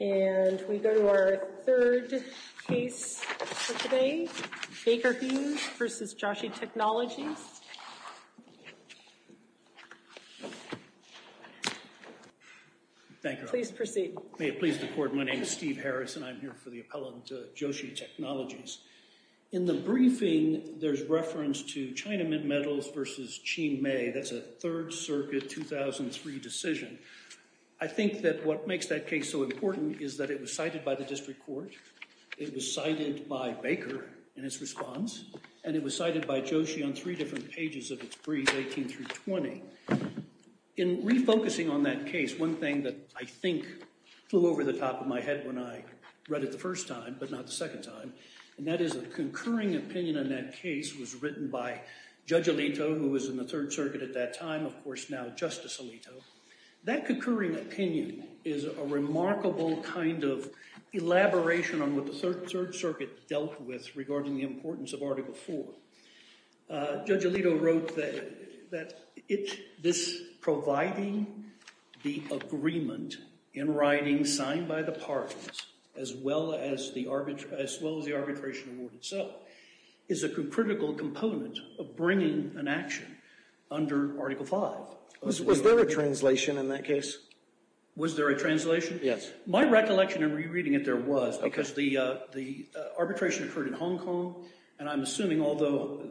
And we go to our third case for today, Baker Hughes v. Joshi Technologies. Thank you. Please proceed. May it please the court, my name is Steve Harris and I'm here for the appellant to Joshi Technologies. In the briefing, there's reference to China Mint Metals v. Qin Mei, that's a 3rd Circuit 2003 decision. I think that what makes that case so important is that it was cited by the district court, it was cited by Baker in his response, and it was cited by Joshi on three different pages of its brief, 18 through 20. In refocusing on that case, one thing that I think flew over the top of my head when I read it the first time, but not the second time, and that is a concurring opinion on that case was written by Judge Alito, who was in the 3rd Circuit at that time, of course now Justice Alito. That concurring opinion is a remarkable kind of elaboration on what the 3rd Circuit dealt with regarding the importance of Article 4. Judge Alito wrote that this providing the agreement in writing signed by the parties, as well as the arbitration award itself, is a critical component of bringing an action under Article 5. Was there a translation in that case? Was there a translation? Yes. My recollection in rereading it there was, because the arbitration occurred in Hong Kong, and I'm assuming although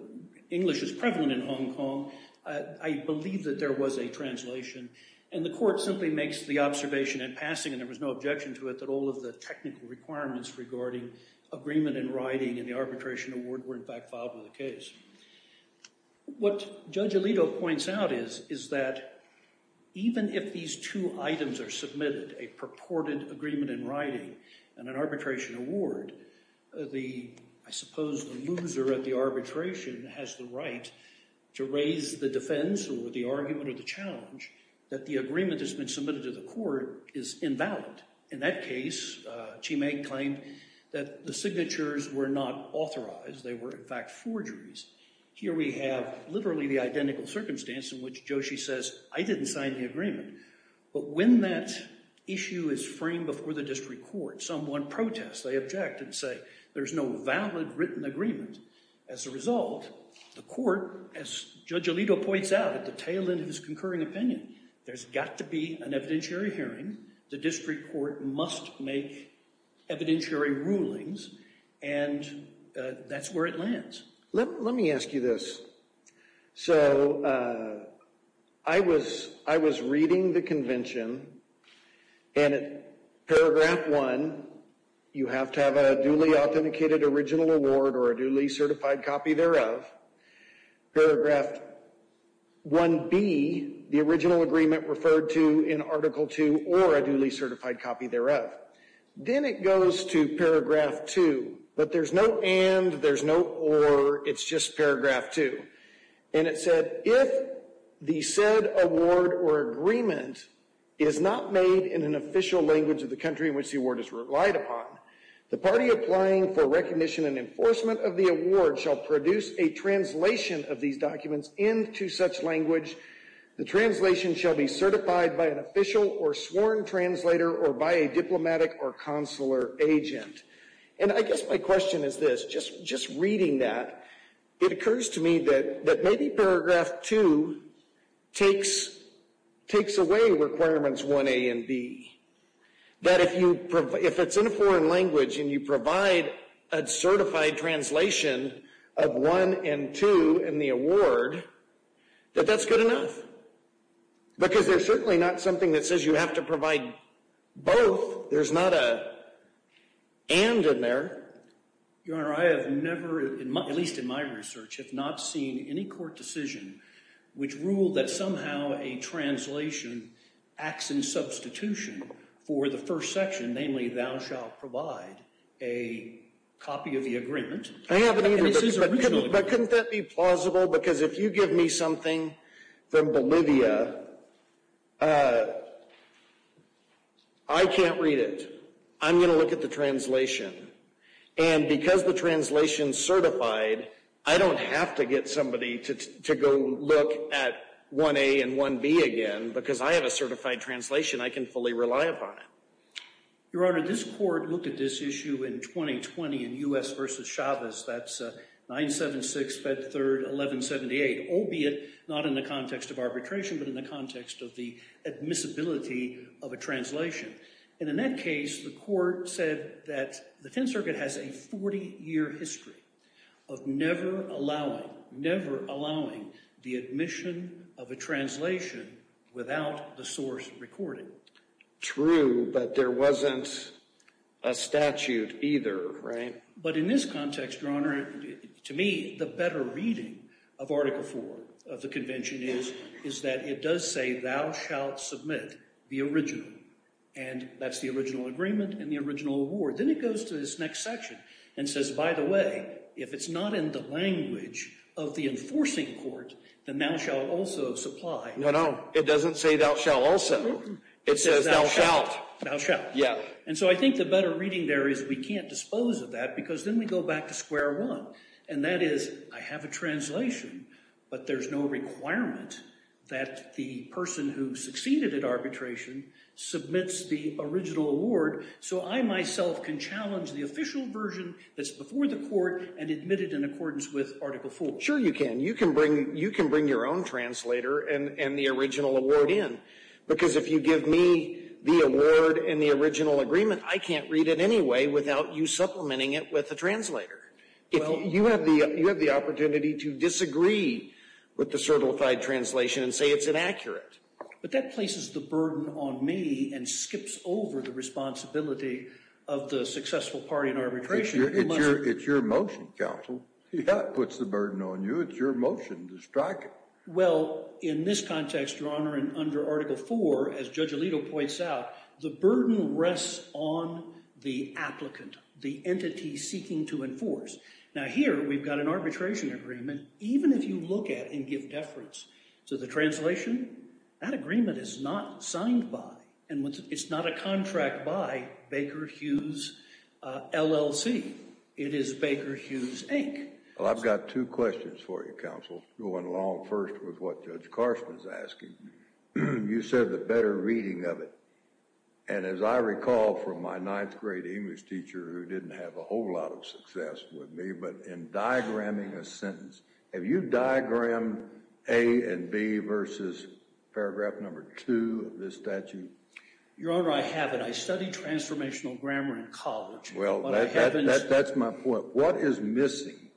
English is prevalent in Hong Kong, I believe that there was a translation, and the court simply makes the observation in passing, and there was no objection to it, that all of the technical requirements regarding agreement in writing and the arbitration award were in fact filed with the case. What Judge Alito points out is that even if these two items are submitted, a purported agreement in writing and an arbitration award, I suppose the loser at the arbitration has the right to raise the defense or the argument or the challenge that the agreement that's been submitted to the court is invalid. In that case, Chi-Meng claimed that the signatures were not authorized. They were in fact forgeries. Here we have literally the identical circumstance in which Joshi says, I didn't sign the agreement, but when that issue is framed before the district court, someone protests. They object and say there's no valid written agreement. As a result, the court, as Judge Alito points out at the tail end of his concurring opinion, there's got to be an evidentiary hearing. The district court must make evidentiary rulings, and that's where it lands. Let me ask you this. So I was reading the convention, and at paragraph 1, you have to have a duly authenticated original award or a duly certified copy thereof. Paragraph 1B, the original agreement referred to in Article 2 or a duly certified copy thereof. Then it goes to paragraph 2, but there's no and, there's no or, it's just paragraph 2. And it said, if the said award or agreement is not made in an official language of the country in which the award is relied upon, the party applying for recognition and enforcement of the award shall produce a translation of these documents into such language. The translation shall be certified by an official or sworn translator or by a diplomatic or consular agent. And I guess my question is this. Just reading that, it occurs to me that maybe paragraph 2 takes away requirements 1A and B. That if it's in a foreign language and you provide a certified translation of 1 and 2 in the award, that that's good enough. Because there's certainly not something that says you have to provide both. There's not an and in there. Your Honor, I have never, at least in my research, have not seen any court decision which ruled that somehow a translation acts in substitution for the first section, namely thou shalt provide a copy of the agreement. I haven't either, but couldn't that be plausible? Because if you give me something from Bolivia, I can't read it. I'm going to look at the translation. And because the translation's certified, I don't have to get somebody to go look at 1A and 1B again. Because I have a certified translation, I can fully rely upon it. Your Honor, this court looked at this issue in 2020 in U.S. v. Chavez. That's 976, Fed Third, 1178, albeit not in the context of arbitration, but in the context of the admissibility of a translation. And in that case, the court said that the Tenth Circuit has a 40-year history of never allowing, never allowing the admission of a translation without the source recording. True, but there wasn't a statute either, right? But in this context, Your Honor, to me, the better reading of Article IV of the Convention is that it does say thou shalt submit the original. And that's the original agreement and the original award. Then it goes to this next section and says, by the way, if it's not in the language of the enforcing court, then thou shalt also supply. No, no, it doesn't say thou shalt also. It says thou shalt. Thou shalt. Yeah. And so I think the better reading there is we can't dispose of that because then we go back to square one. And that is I have a translation, but there's no requirement that the person who succeeded at arbitration submits the original award so I myself can challenge the official version that's before the court and admit it in accordance with Article IV. Sure you can. You can bring your own translator and the original award in, because if you give me the award and the original agreement, I can't read it anyway without you supplementing it with a translator. You have the opportunity to disagree with the certified translation and say it's inaccurate. But that places the burden on me and skips over the responsibility of the successful party in arbitration. It's your motion, counsel. That puts the burden on you. It's your motion to strike it. Well, in this context, Your Honor, and under Article IV, as Judge Alito points out, the burden rests on the applicant, the entity seeking to enforce. Now here we've got an arbitration agreement. Even if you look at and give deference to the translation, that agreement is not signed by and it's not a contract by Baker Hughes LLC. It is Baker Hughes, Inc. Well, I've got two questions for you, counsel, going along first with what Judge Carson's asking. You said the better reading of it. And as I recall from my ninth grade English teacher who didn't have a whole lot of success with me, but in diagramming a sentence, have you diagrammed A and B versus paragraph number two of this statute? Your Honor, I haven't. I studied transformational grammar in college. Well, that's my point. What is missing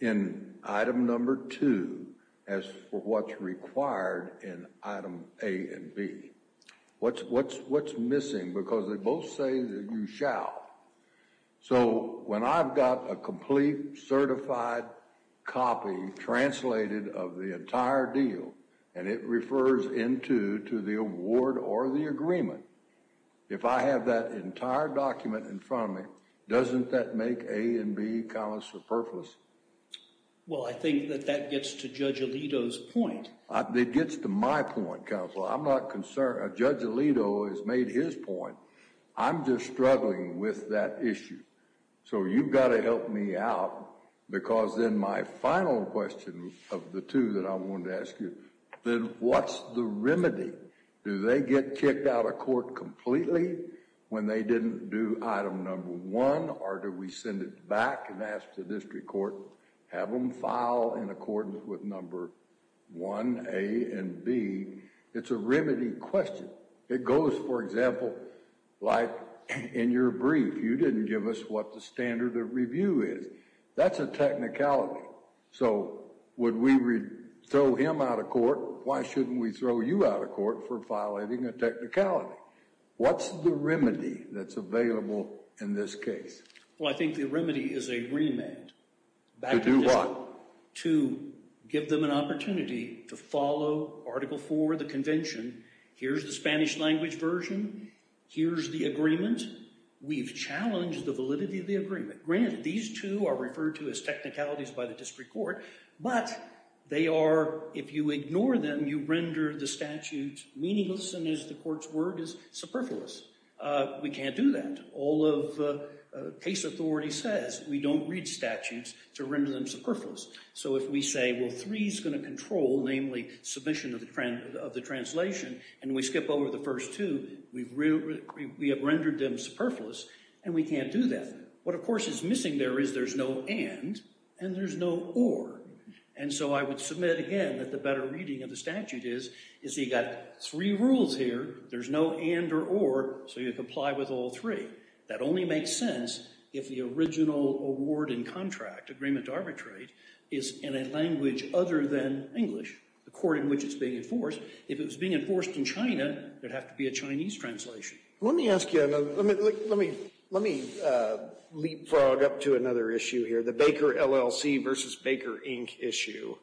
in item number two as for what's required in item A and B? What's missing? Because they both say that you shall. So when I've got a complete certified copy translated of the entire deal, and it refers into to the award or the agreement, if I have that entire document in front of me, doesn't that make A and B comments for purpose? Well, I think that that gets to Judge Alito's point. It gets to my point, counsel. I'm not concerned. Judge Alito has made his point. I'm just struggling with that issue. So you've got to help me out because then my final question of the two that I wanted to ask you, then what's the remedy? Do they get kicked out of court completely when they didn't do item number one, or do we send it back and ask the district court, have them file in accordance with number one, A and B? It's a remedy question. It goes, for example, like in your brief, you didn't give us what the standard of review is. That's a technicality. So would we throw him out of court? Or why shouldn't we throw you out of court for violating a technicality? What's the remedy that's available in this case? Well, I think the remedy is agreement. To do what? To give them an opportunity to follow Article IV, the convention. Here's the Spanish language version. Here's the agreement. We've challenged the validity of the agreement. Granted, these two are referred to as technicalities by the district court, but they are, if you ignore them, you render the statute meaningless, and as the court's word is, superfluous. We can't do that. All of case authority says we don't read statutes to render them superfluous. So if we say, well, three is going to control, namely, submission of the translation, and we skip over the first two, we have rendered them superfluous, and we can't do that. What, of course, is missing there is there's no and and there's no or. And so I would submit again that the better reading of the statute is you've got three rules here, there's no and or or, so you comply with all three. That only makes sense if the original award and contract, agreement to arbitrate, is in a language other than English, the court in which it's being enforced. If it was being enforced in China, there'd have to be a Chinese translation. Let me ask you another. Let me leapfrog up to another issue here, the Baker LLC versus Baker Inc. issue.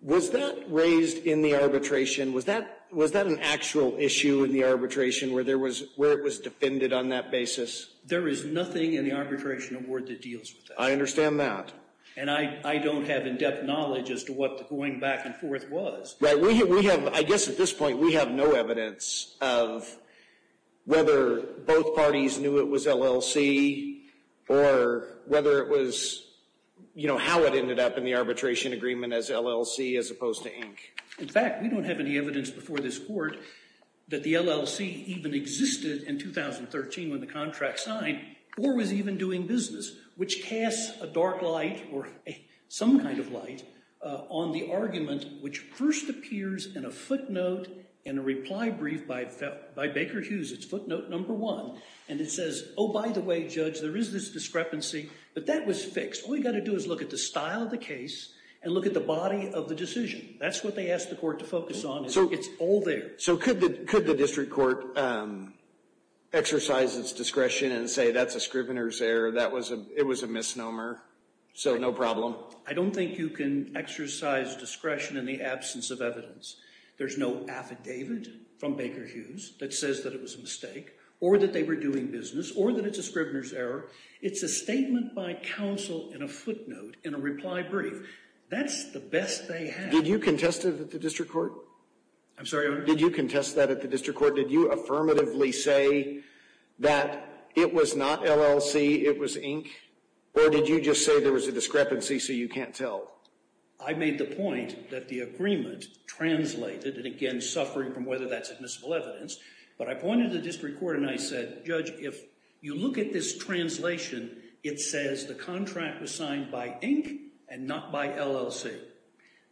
Was that raised in the arbitration? Was that an actual issue in the arbitration where it was defended on that basis? There is nothing in the arbitration award that deals with that. I understand that. And I don't have in-depth knowledge as to what the going back and forth was. I guess at this point we have no evidence of whether both parties knew it was LLC or whether it was how it ended up in the arbitration agreement as LLC as opposed to Inc. In fact, we don't have any evidence before this court that the LLC even existed in 2013 when the contract signed or was even doing business, which casts a dark light or some kind of light on the argument which first appears in a footnote in a reply brief by Baker Hughes. It's footnote number one. And it says, oh, by the way, Judge, there is this discrepancy. But that was fixed. All you've got to do is look at the style of the case and look at the body of the decision. That's what they asked the court to focus on. It's all there. So could the district court exercise its discretion and say that's a scrivener's error, that it was a misnomer, so no problem? No, I don't think you can exercise discretion in the absence of evidence. There's no affidavit from Baker Hughes that says that it was a mistake or that they were doing business or that it's a scrivener's error. It's a statement by counsel in a footnote in a reply brief. That's the best they had. Did you contest it at the district court? I'm sorry, Your Honor? Did you contest that at the district court? Did you affirmatively say that it was not LLC, it was Inc.? Or did you just say there was a discrepancy so you can't tell? I made the point that the agreement translated, and again suffering from whether that's admissible evidence, but I pointed to the district court and I said, Judge, if you look at this translation, it says the contract was signed by Inc. and not by LLC.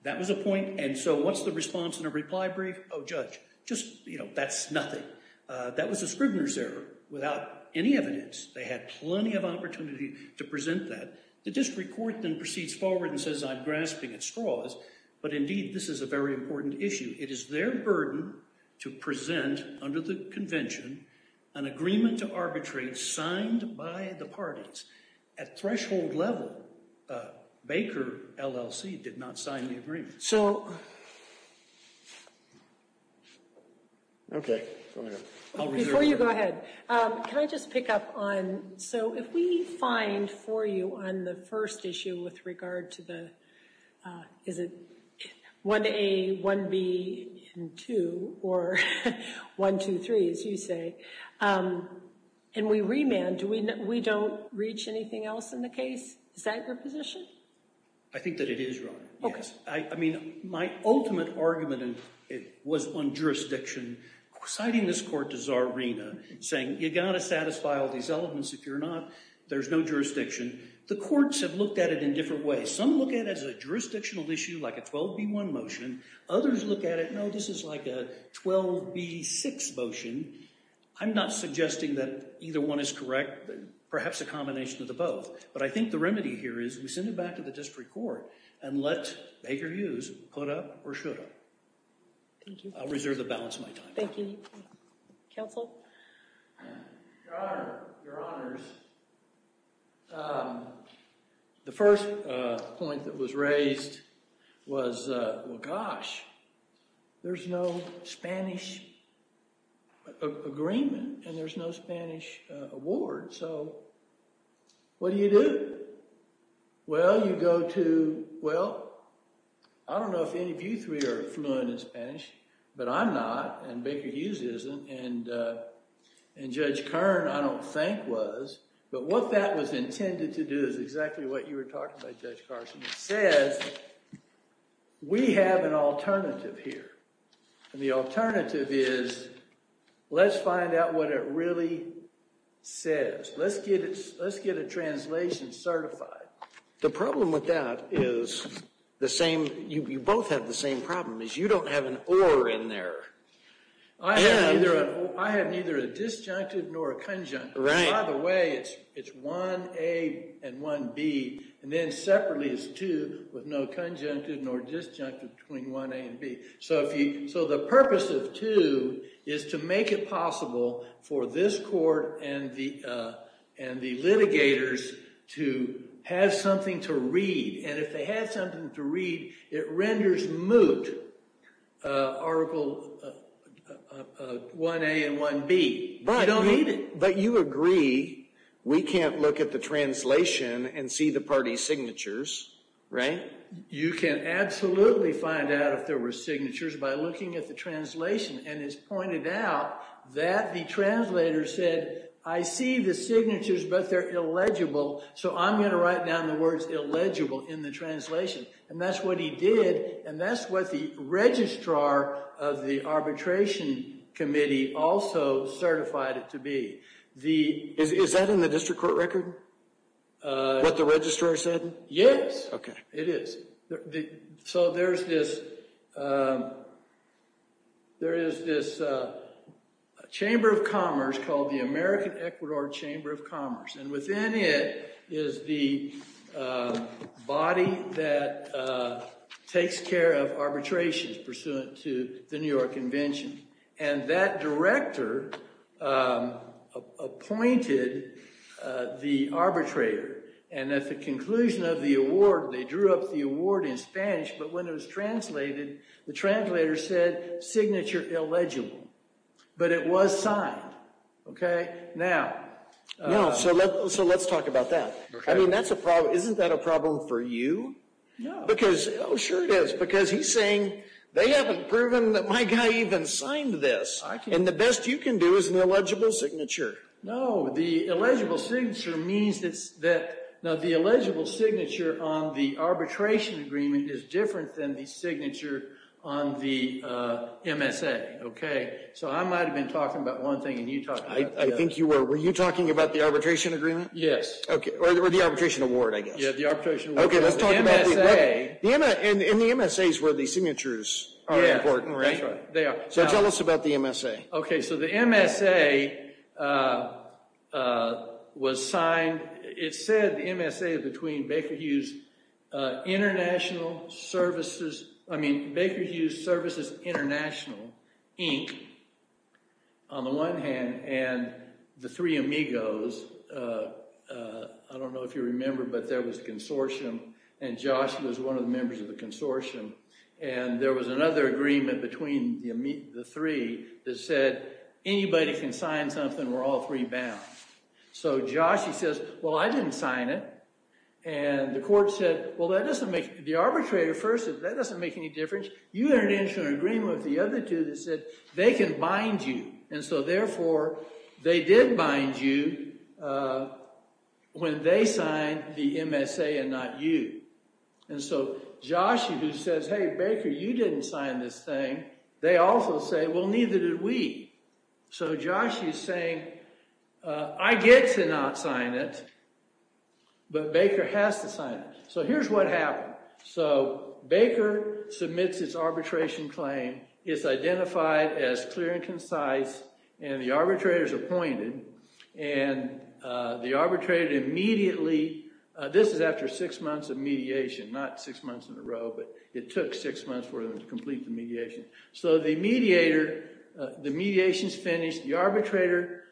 That was a point. And so what's the response in a reply brief? Oh, Judge, just, you know, that's nothing. That was a scrivener's error without any evidence. They had plenty of opportunity to present that. The district court then proceeds forward and says, I'm grasping at straws, but indeed this is a very important issue. It is their burden to present under the convention an agreement to arbitrate signed by the parties. At threshold level, Baker LLC did not sign the agreement. So, okay. Before you go ahead, can I just pick up on, so if we find for you on the first issue with regard to the, is it 1A, 1B, and 2, or 1, 2, 3, as you say, and we remand, we don't reach anything else in the case? Is that your position? I think that it is, Your Honor. Okay. I mean, my ultimate argument was on jurisdiction. Citing this court to Czarina, saying, you got to satisfy all these elements if you're not, there's no jurisdiction. The courts have looked at it in different ways. Some look at it as a jurisdictional issue, like a 12B1 motion. Others look at it, no, this is like a 12B6 motion. I'm not suggesting that either one is correct, perhaps a combination of the both. But I think the remedy here is we send it back to the district court and let Baker Hughes put up or shut up. Thank you. I'll reserve the balance of my time. Thank you. Counsel? Your Honor, Your Honors, the first point that was raised was, well, gosh, there's no Spanish agreement and there's no Spanish award. So what do you do? Well, you go to, well, I don't know if any of you three are fluent in Spanish, but I'm not and Baker Hughes isn't and Judge Kern I don't think was. But what that was intended to do is exactly what you were talking about, Judge Carson. It says, we have an alternative here. And the alternative is, let's find out what it really says. Let's get a translation certified. The problem with that is the same, you both have the same problem is you don't have an or in there. I have neither a disjuncted nor a conjuncted. By the way, it's 1A and 1B. And then separately it's two with no conjuncted nor disjuncted between 1A and B. So the purpose of two is to make it possible for this court and the litigators to have something to read. And if they have something to read, it renders moot Article 1A and 1B. But you agree we can't look at the translation and see the party signatures, right? You can absolutely find out if there were signatures by looking at the translation. And it's pointed out that the translator said, I see the signatures, but they're illegible, so I'm going to write down the words illegible in the translation. And that's what he did, and that's what the registrar of the arbitration committee also certified it to be. Is that in the district court record, what the registrar said? Yes. Okay. It is. So there is this chamber of commerce called the American Ecuador Chamber of Commerce. And within it is the body that takes care of arbitrations pursuant to the New York Convention. And that director appointed the arbitrator. And at the conclusion of the award, they drew up the award in Spanish, but when it was translated, the translator said, signature illegible. But it was signed. Okay? Now. So let's talk about that. I mean, that's a problem. Isn't that a problem for you? No. Oh, sure it is, because he's saying, they haven't proven that my guy even signed this. And the best you can do is an illegible signature. No. The illegible signature means that the illegible signature on the arbitration agreement is different than the signature on the MSA. Okay? So I might have been talking about one thing, and you talked about the other. I think you were. Were you talking about the arbitration agreement? Yes. Okay. Or the arbitration award, I guess. Yeah, the arbitration award. Okay. Let's talk about the MSA. And the MSA is where the signatures are important, right? That's right. They are. So tell us about the MSA. Okay. So the MSA was signed. It said the MSA is between Baker Hughes Services International, Inc., on the one hand, and the Three Amigos. I don't know if you remember, but there was a consortium, and Josh was one of the members of the consortium. And there was another agreement between the three that said, anybody can sign something, we're all three bound. So Josh, he says, well, I didn't sign it. And the court said, well, that doesn't make – the arbitrator first said, that doesn't make any difference. You entered into an agreement with the other two that said they can bind you. And so, therefore, they did bind you when they signed the MSA and not you. And so Josh, who says, hey, Baker, you didn't sign this thing, they also say, well, neither did we. So Josh is saying, I get to not sign it, but Baker has to sign it. So here's what happened. So Baker submits its arbitration claim. It's identified as clear and concise, and the arbitrator is appointed. And the arbitrator immediately – so this is after six months of mediation, not six months in a row, but it took six months for them to complete the mediation. So the mediator – the mediation's finished, the arbitrator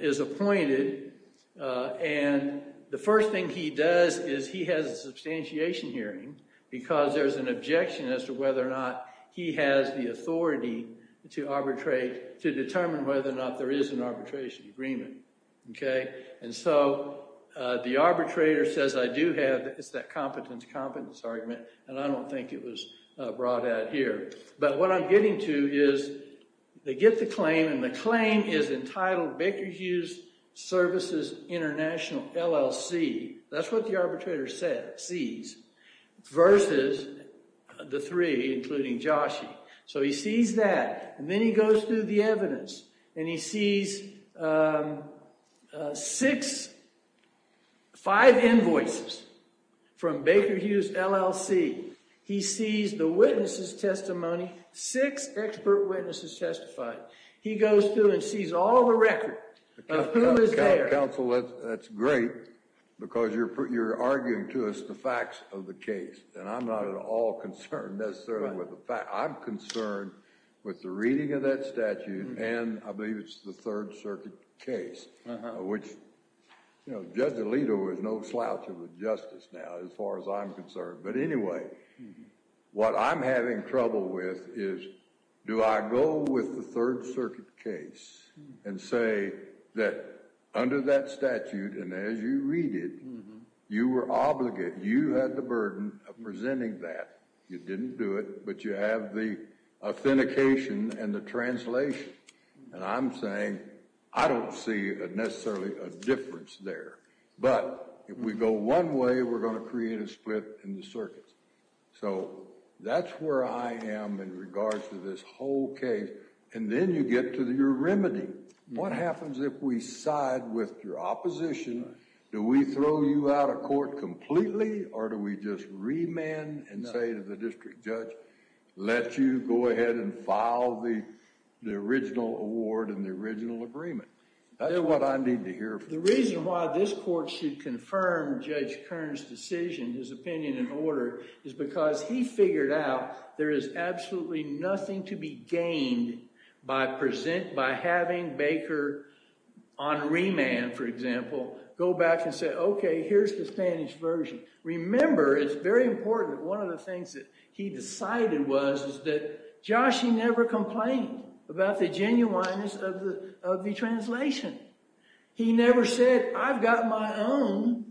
is appointed, and the first thing he does is he has a substantiation hearing because there's an objection as to whether or not he has the authority to arbitrate, to determine whether or not there is an arbitration agreement. And so the arbitrator says, I do have – it's that competence-to-competence argument, and I don't think it was brought out here. But what I'm getting to is they get the claim, and the claim is entitled Baker Hughes Services International, LLC. That's what the arbitrator sees, versus the three, including Joshie. So he sees that, and then he goes through the evidence, and he sees six – five invoices from Baker Hughes, LLC. He sees the witnesses' testimony, six expert witnesses testified. He goes through and sees all the record of who is there. Counsel, that's great because you're arguing to us the facts of the case, and I'm not at all concerned necessarily with the facts. I'm concerned with the reading of that statute, and I believe it's the Third Circuit case, which Judge Alito is no slouch of a justice now as far as I'm concerned. But anyway, what I'm having trouble with is, do I go with the Third Circuit case and say that under that statute, and as you read it, you were obligated, you had the burden of presenting that. You didn't do it, but you have the authentication and the translation. And I'm saying I don't see necessarily a difference there. But if we go one way, we're going to create a split in the circuits. So that's where I am in regards to this whole case. And then you get to your remedy. What happens if we side with your opposition? Do we throw you out of court completely, or do we just remand and say to the district judge, let you go ahead and file the original award and the original agreement? That's what I need to hear from you. The reason why this court should confirm Judge Kern's decision, his opinion and order, is because he figured out there is absolutely nothing to be gained by having Baker on remand, for example, go back and say, OK, here's the Spanish version. Remember, it's very important that one of the things that he decided was that Joshie never complained about the genuineness of the translation. He never said, I've got my own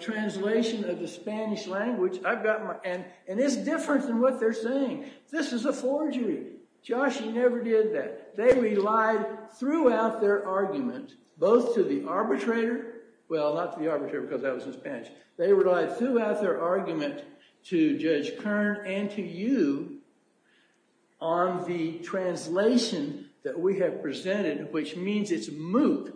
translation of the Spanish language, and it's different than what they're saying. This is a forgery. Joshie never did that. They relied throughout their argument, both to the arbitrator. Well, not to the arbitrator, because that was in Spanish. They relied throughout their argument to Judge Kern and to you on the translation that we have presented, which means it's moot,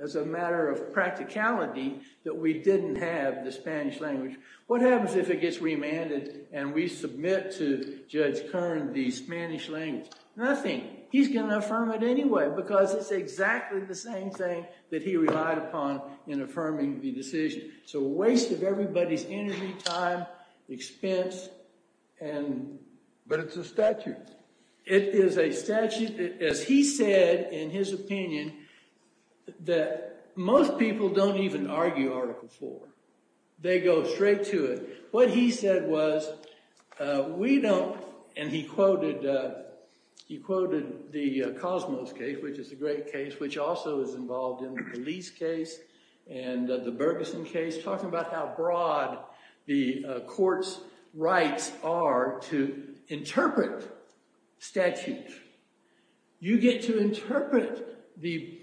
as a matter of practicality, that we didn't have the Spanish language. What happens if it gets remanded and we submit to Judge Kern the Spanish language? Nothing. He's going to affirm it anyway, because it's exactly the same thing that he relied upon in affirming the decision. It's a waste of everybody's energy, time, expense. But it's a statute. It is a statute. As he said, in his opinion, that most people don't even argue Article IV. They go straight to it. What he said was we don't, and he quoted the Cosmos case, which is a great case, which also is involved in the police case and the Bergeson case, talking about how broad the court's rights are to interpret statutes. You get to interpret the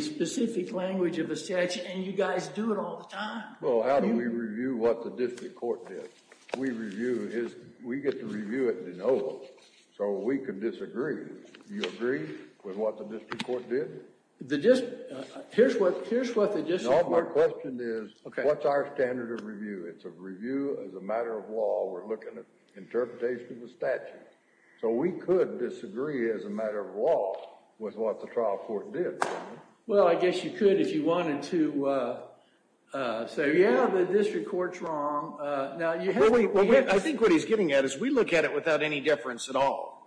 specific language of a statute, and you guys do it all the time. Well, how do we review what the district court did? We review it. We get to review it de novo so we can disagree. Do you agree with what the district court did? Here's what the district court did. My question is, what's our standard of review? It's a review as a matter of law. We're looking at interpretation of a statute. So we could disagree as a matter of law with what the trial court did. Well, I guess you could if you wanted to say, yeah, the district court's wrong. I think what he's getting at is we look at it without any difference at all.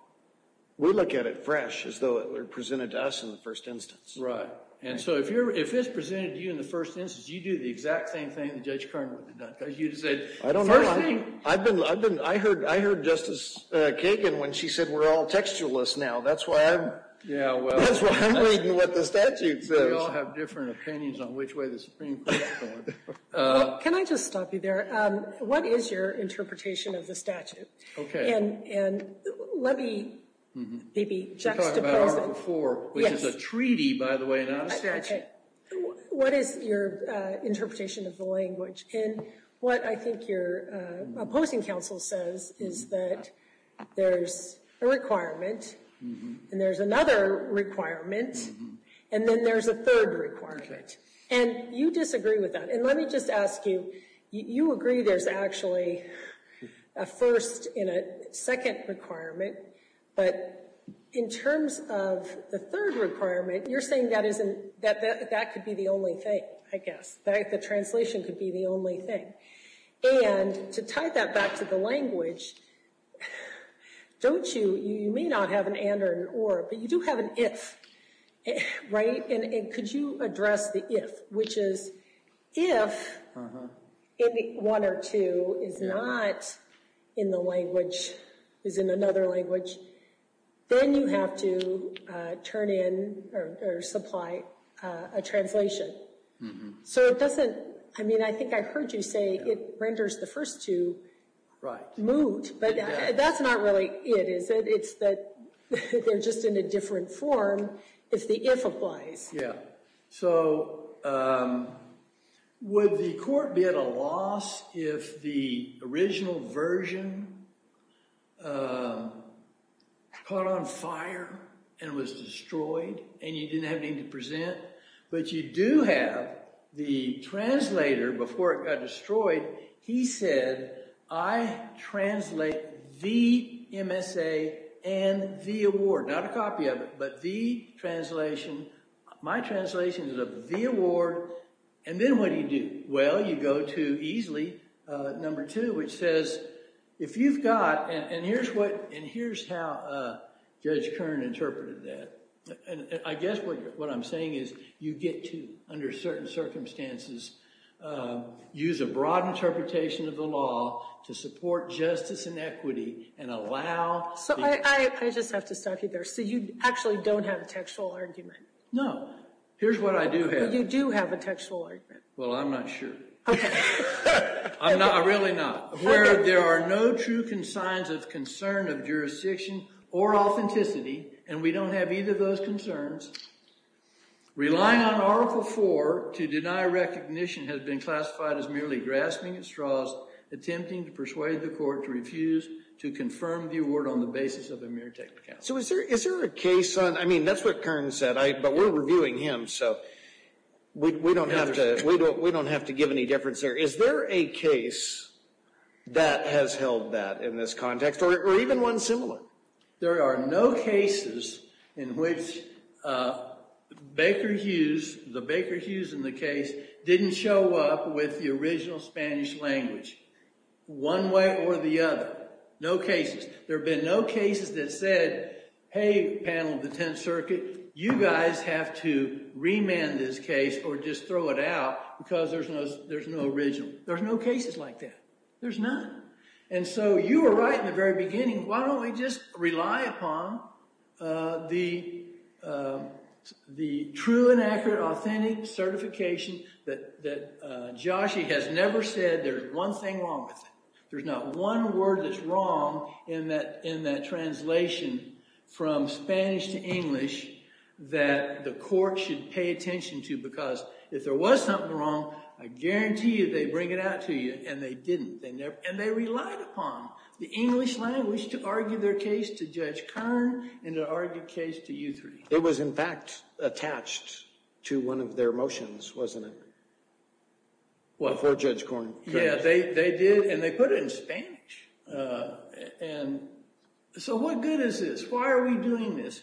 We look at it fresh, as though it were presented to us in the first instance. Right. And so if it's presented to you in the first instance, you do the exact same thing that Judge Kerr would have done. Because you'd have said, first thing. I don't know. I heard Justice Kagan when she said we're all textualists now. That's why I'm reading what the statute says. We all have different opinions on which way the Supreme Court's going. Can I just stop you there? What is your interpretation of the statute? OK. And let me maybe juxtapose it. You talked about it before. Yes. Which is a treaty, by the way, not a statute. OK. What is your interpretation of the language? And what I think your opposing counsel says is that there's a requirement, and there's another requirement, and then there's a third requirement. And you disagree with that. And let me just ask you, you agree there's actually a first and a second requirement. But in terms of the third requirement, you're saying that could be the only thing, I guess. That the translation could be the only thing. And to tie that back to the language, don't you, you may not have an and or an or, but you do have an if. Right? And could you address the if, which is if one or two is not in the language, is in another language, then you have to turn in or supply a translation. So it doesn't, I mean, I think I heard you say it renders the first two moot. Right. But that's not really it, is it? It's that they're just in a different form if the if applies. Yeah. So would the court be at a loss if the original version caught on fire and was destroyed, and you didn't have anything to present? But you do have the translator before it got destroyed. He said, I translate the MSA and the award. Not a copy of it, but the translation. My translation is of the award. And then what do you do? Well, you go to easily number two, which says, if you've got, and here's how Judge Kern interpreted that. I guess what I'm saying is you get to, under certain circumstances, use a broad interpretation of the law to support justice and equity and allow. So I just have to stop you there. So you actually don't have a textual argument? No. Here's what I do have. You do have a textual argument. Well, I'm not sure. I'm really not. Where there are no true signs of concern of jurisdiction or authenticity, and we don't have either of those concerns, relying on Article IV to deny recognition has been classified as merely grasping at straws, attempting to persuade the court to refuse to confirm the award on the basis of a mere technicality. So is there a case on, I mean, that's what Kern said, but we're reviewing him, so we don't have to give any difference there. Is there a case that has held that in this context, or even one similar? There are no cases in which Baker Hughes, the Baker Hughes in the case, didn't show up with the original Spanish language, one way or the other. No cases. There have been no cases that said, hey, panel of the Tenth Circuit, you guys have to remand this case or just throw it out because there's no original. There's no cases like that. There's none. And so you were right in the very beginning. Why don't we just rely upon the true and accurate, authentic certification that Joshie has never said there's one thing wrong with it. There's not one word that's wrong in that translation from Spanish to English that the court should pay attention to because if there was something wrong, I guarantee you they'd bring it out to you, and they didn't. And they relied upon the English language to argue their case to Judge Kern and to argue the case to you three. It was, in fact, attached to one of their motions, wasn't it? Before Judge Kern. Yeah, they did, and they put it in Spanish. And so what good is this? Why are we doing this?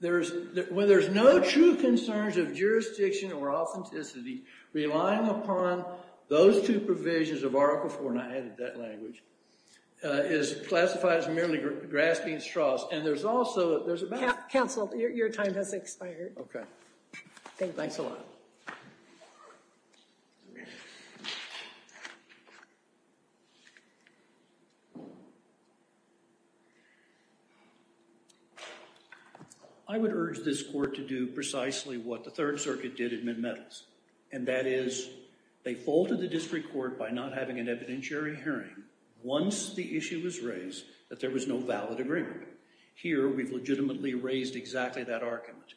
When there's no true concerns of jurisdiction or authenticity, relying upon those two provisions of Article IV, and I added that language, is classified as merely grasping straws. And there's also a better way. Counsel, your time has expired. Okay. Thanks a lot. Thank you. I would urge this court to do precisely what the Third Circuit did in Midmetals, and that is they faulted the district court by not having an evidentiary hearing once the issue was raised that there was no valid agreement. Here, we've legitimately raised exactly that argument.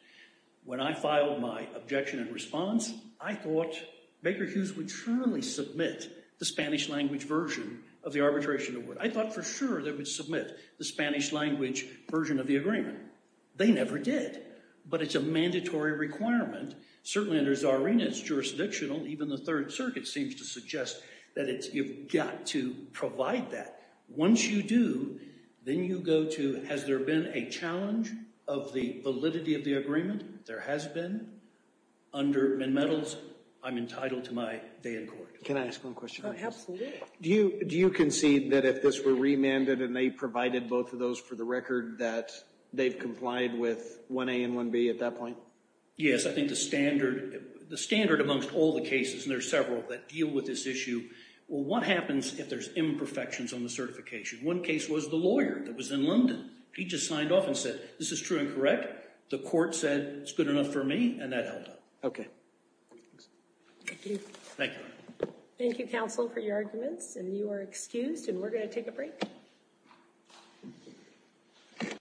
When I filed my objection and response, I thought Baker Hughes would surely submit the Spanish language version of the arbitration award. I thought for sure they would submit the Spanish language version of the agreement. They never did. But it's a mandatory requirement. Certainly under Zarina, it's jurisdictional. Even the Third Circuit seems to suggest that you've got to provide that. Once you do, then you go to has there been a challenge of the validity of the agreement? There has been. Under Midmetals, I'm entitled to my day in court. Can I ask one question? Absolutely. Do you concede that if this were remanded and they provided both of those for the record, that they've complied with 1A and 1B at that point? Yes. I think the standard amongst all the cases, and there are several that deal with this issue, well, what happens if there's imperfections on the certification? One case was the lawyer that was in London. He just signed off and said, this is true and correct. The court said it's good enough for me, and that held up. Okay. Thank you. Thank you. Thank you, counsel, for your arguments. And you are excused, and we're going to take a break.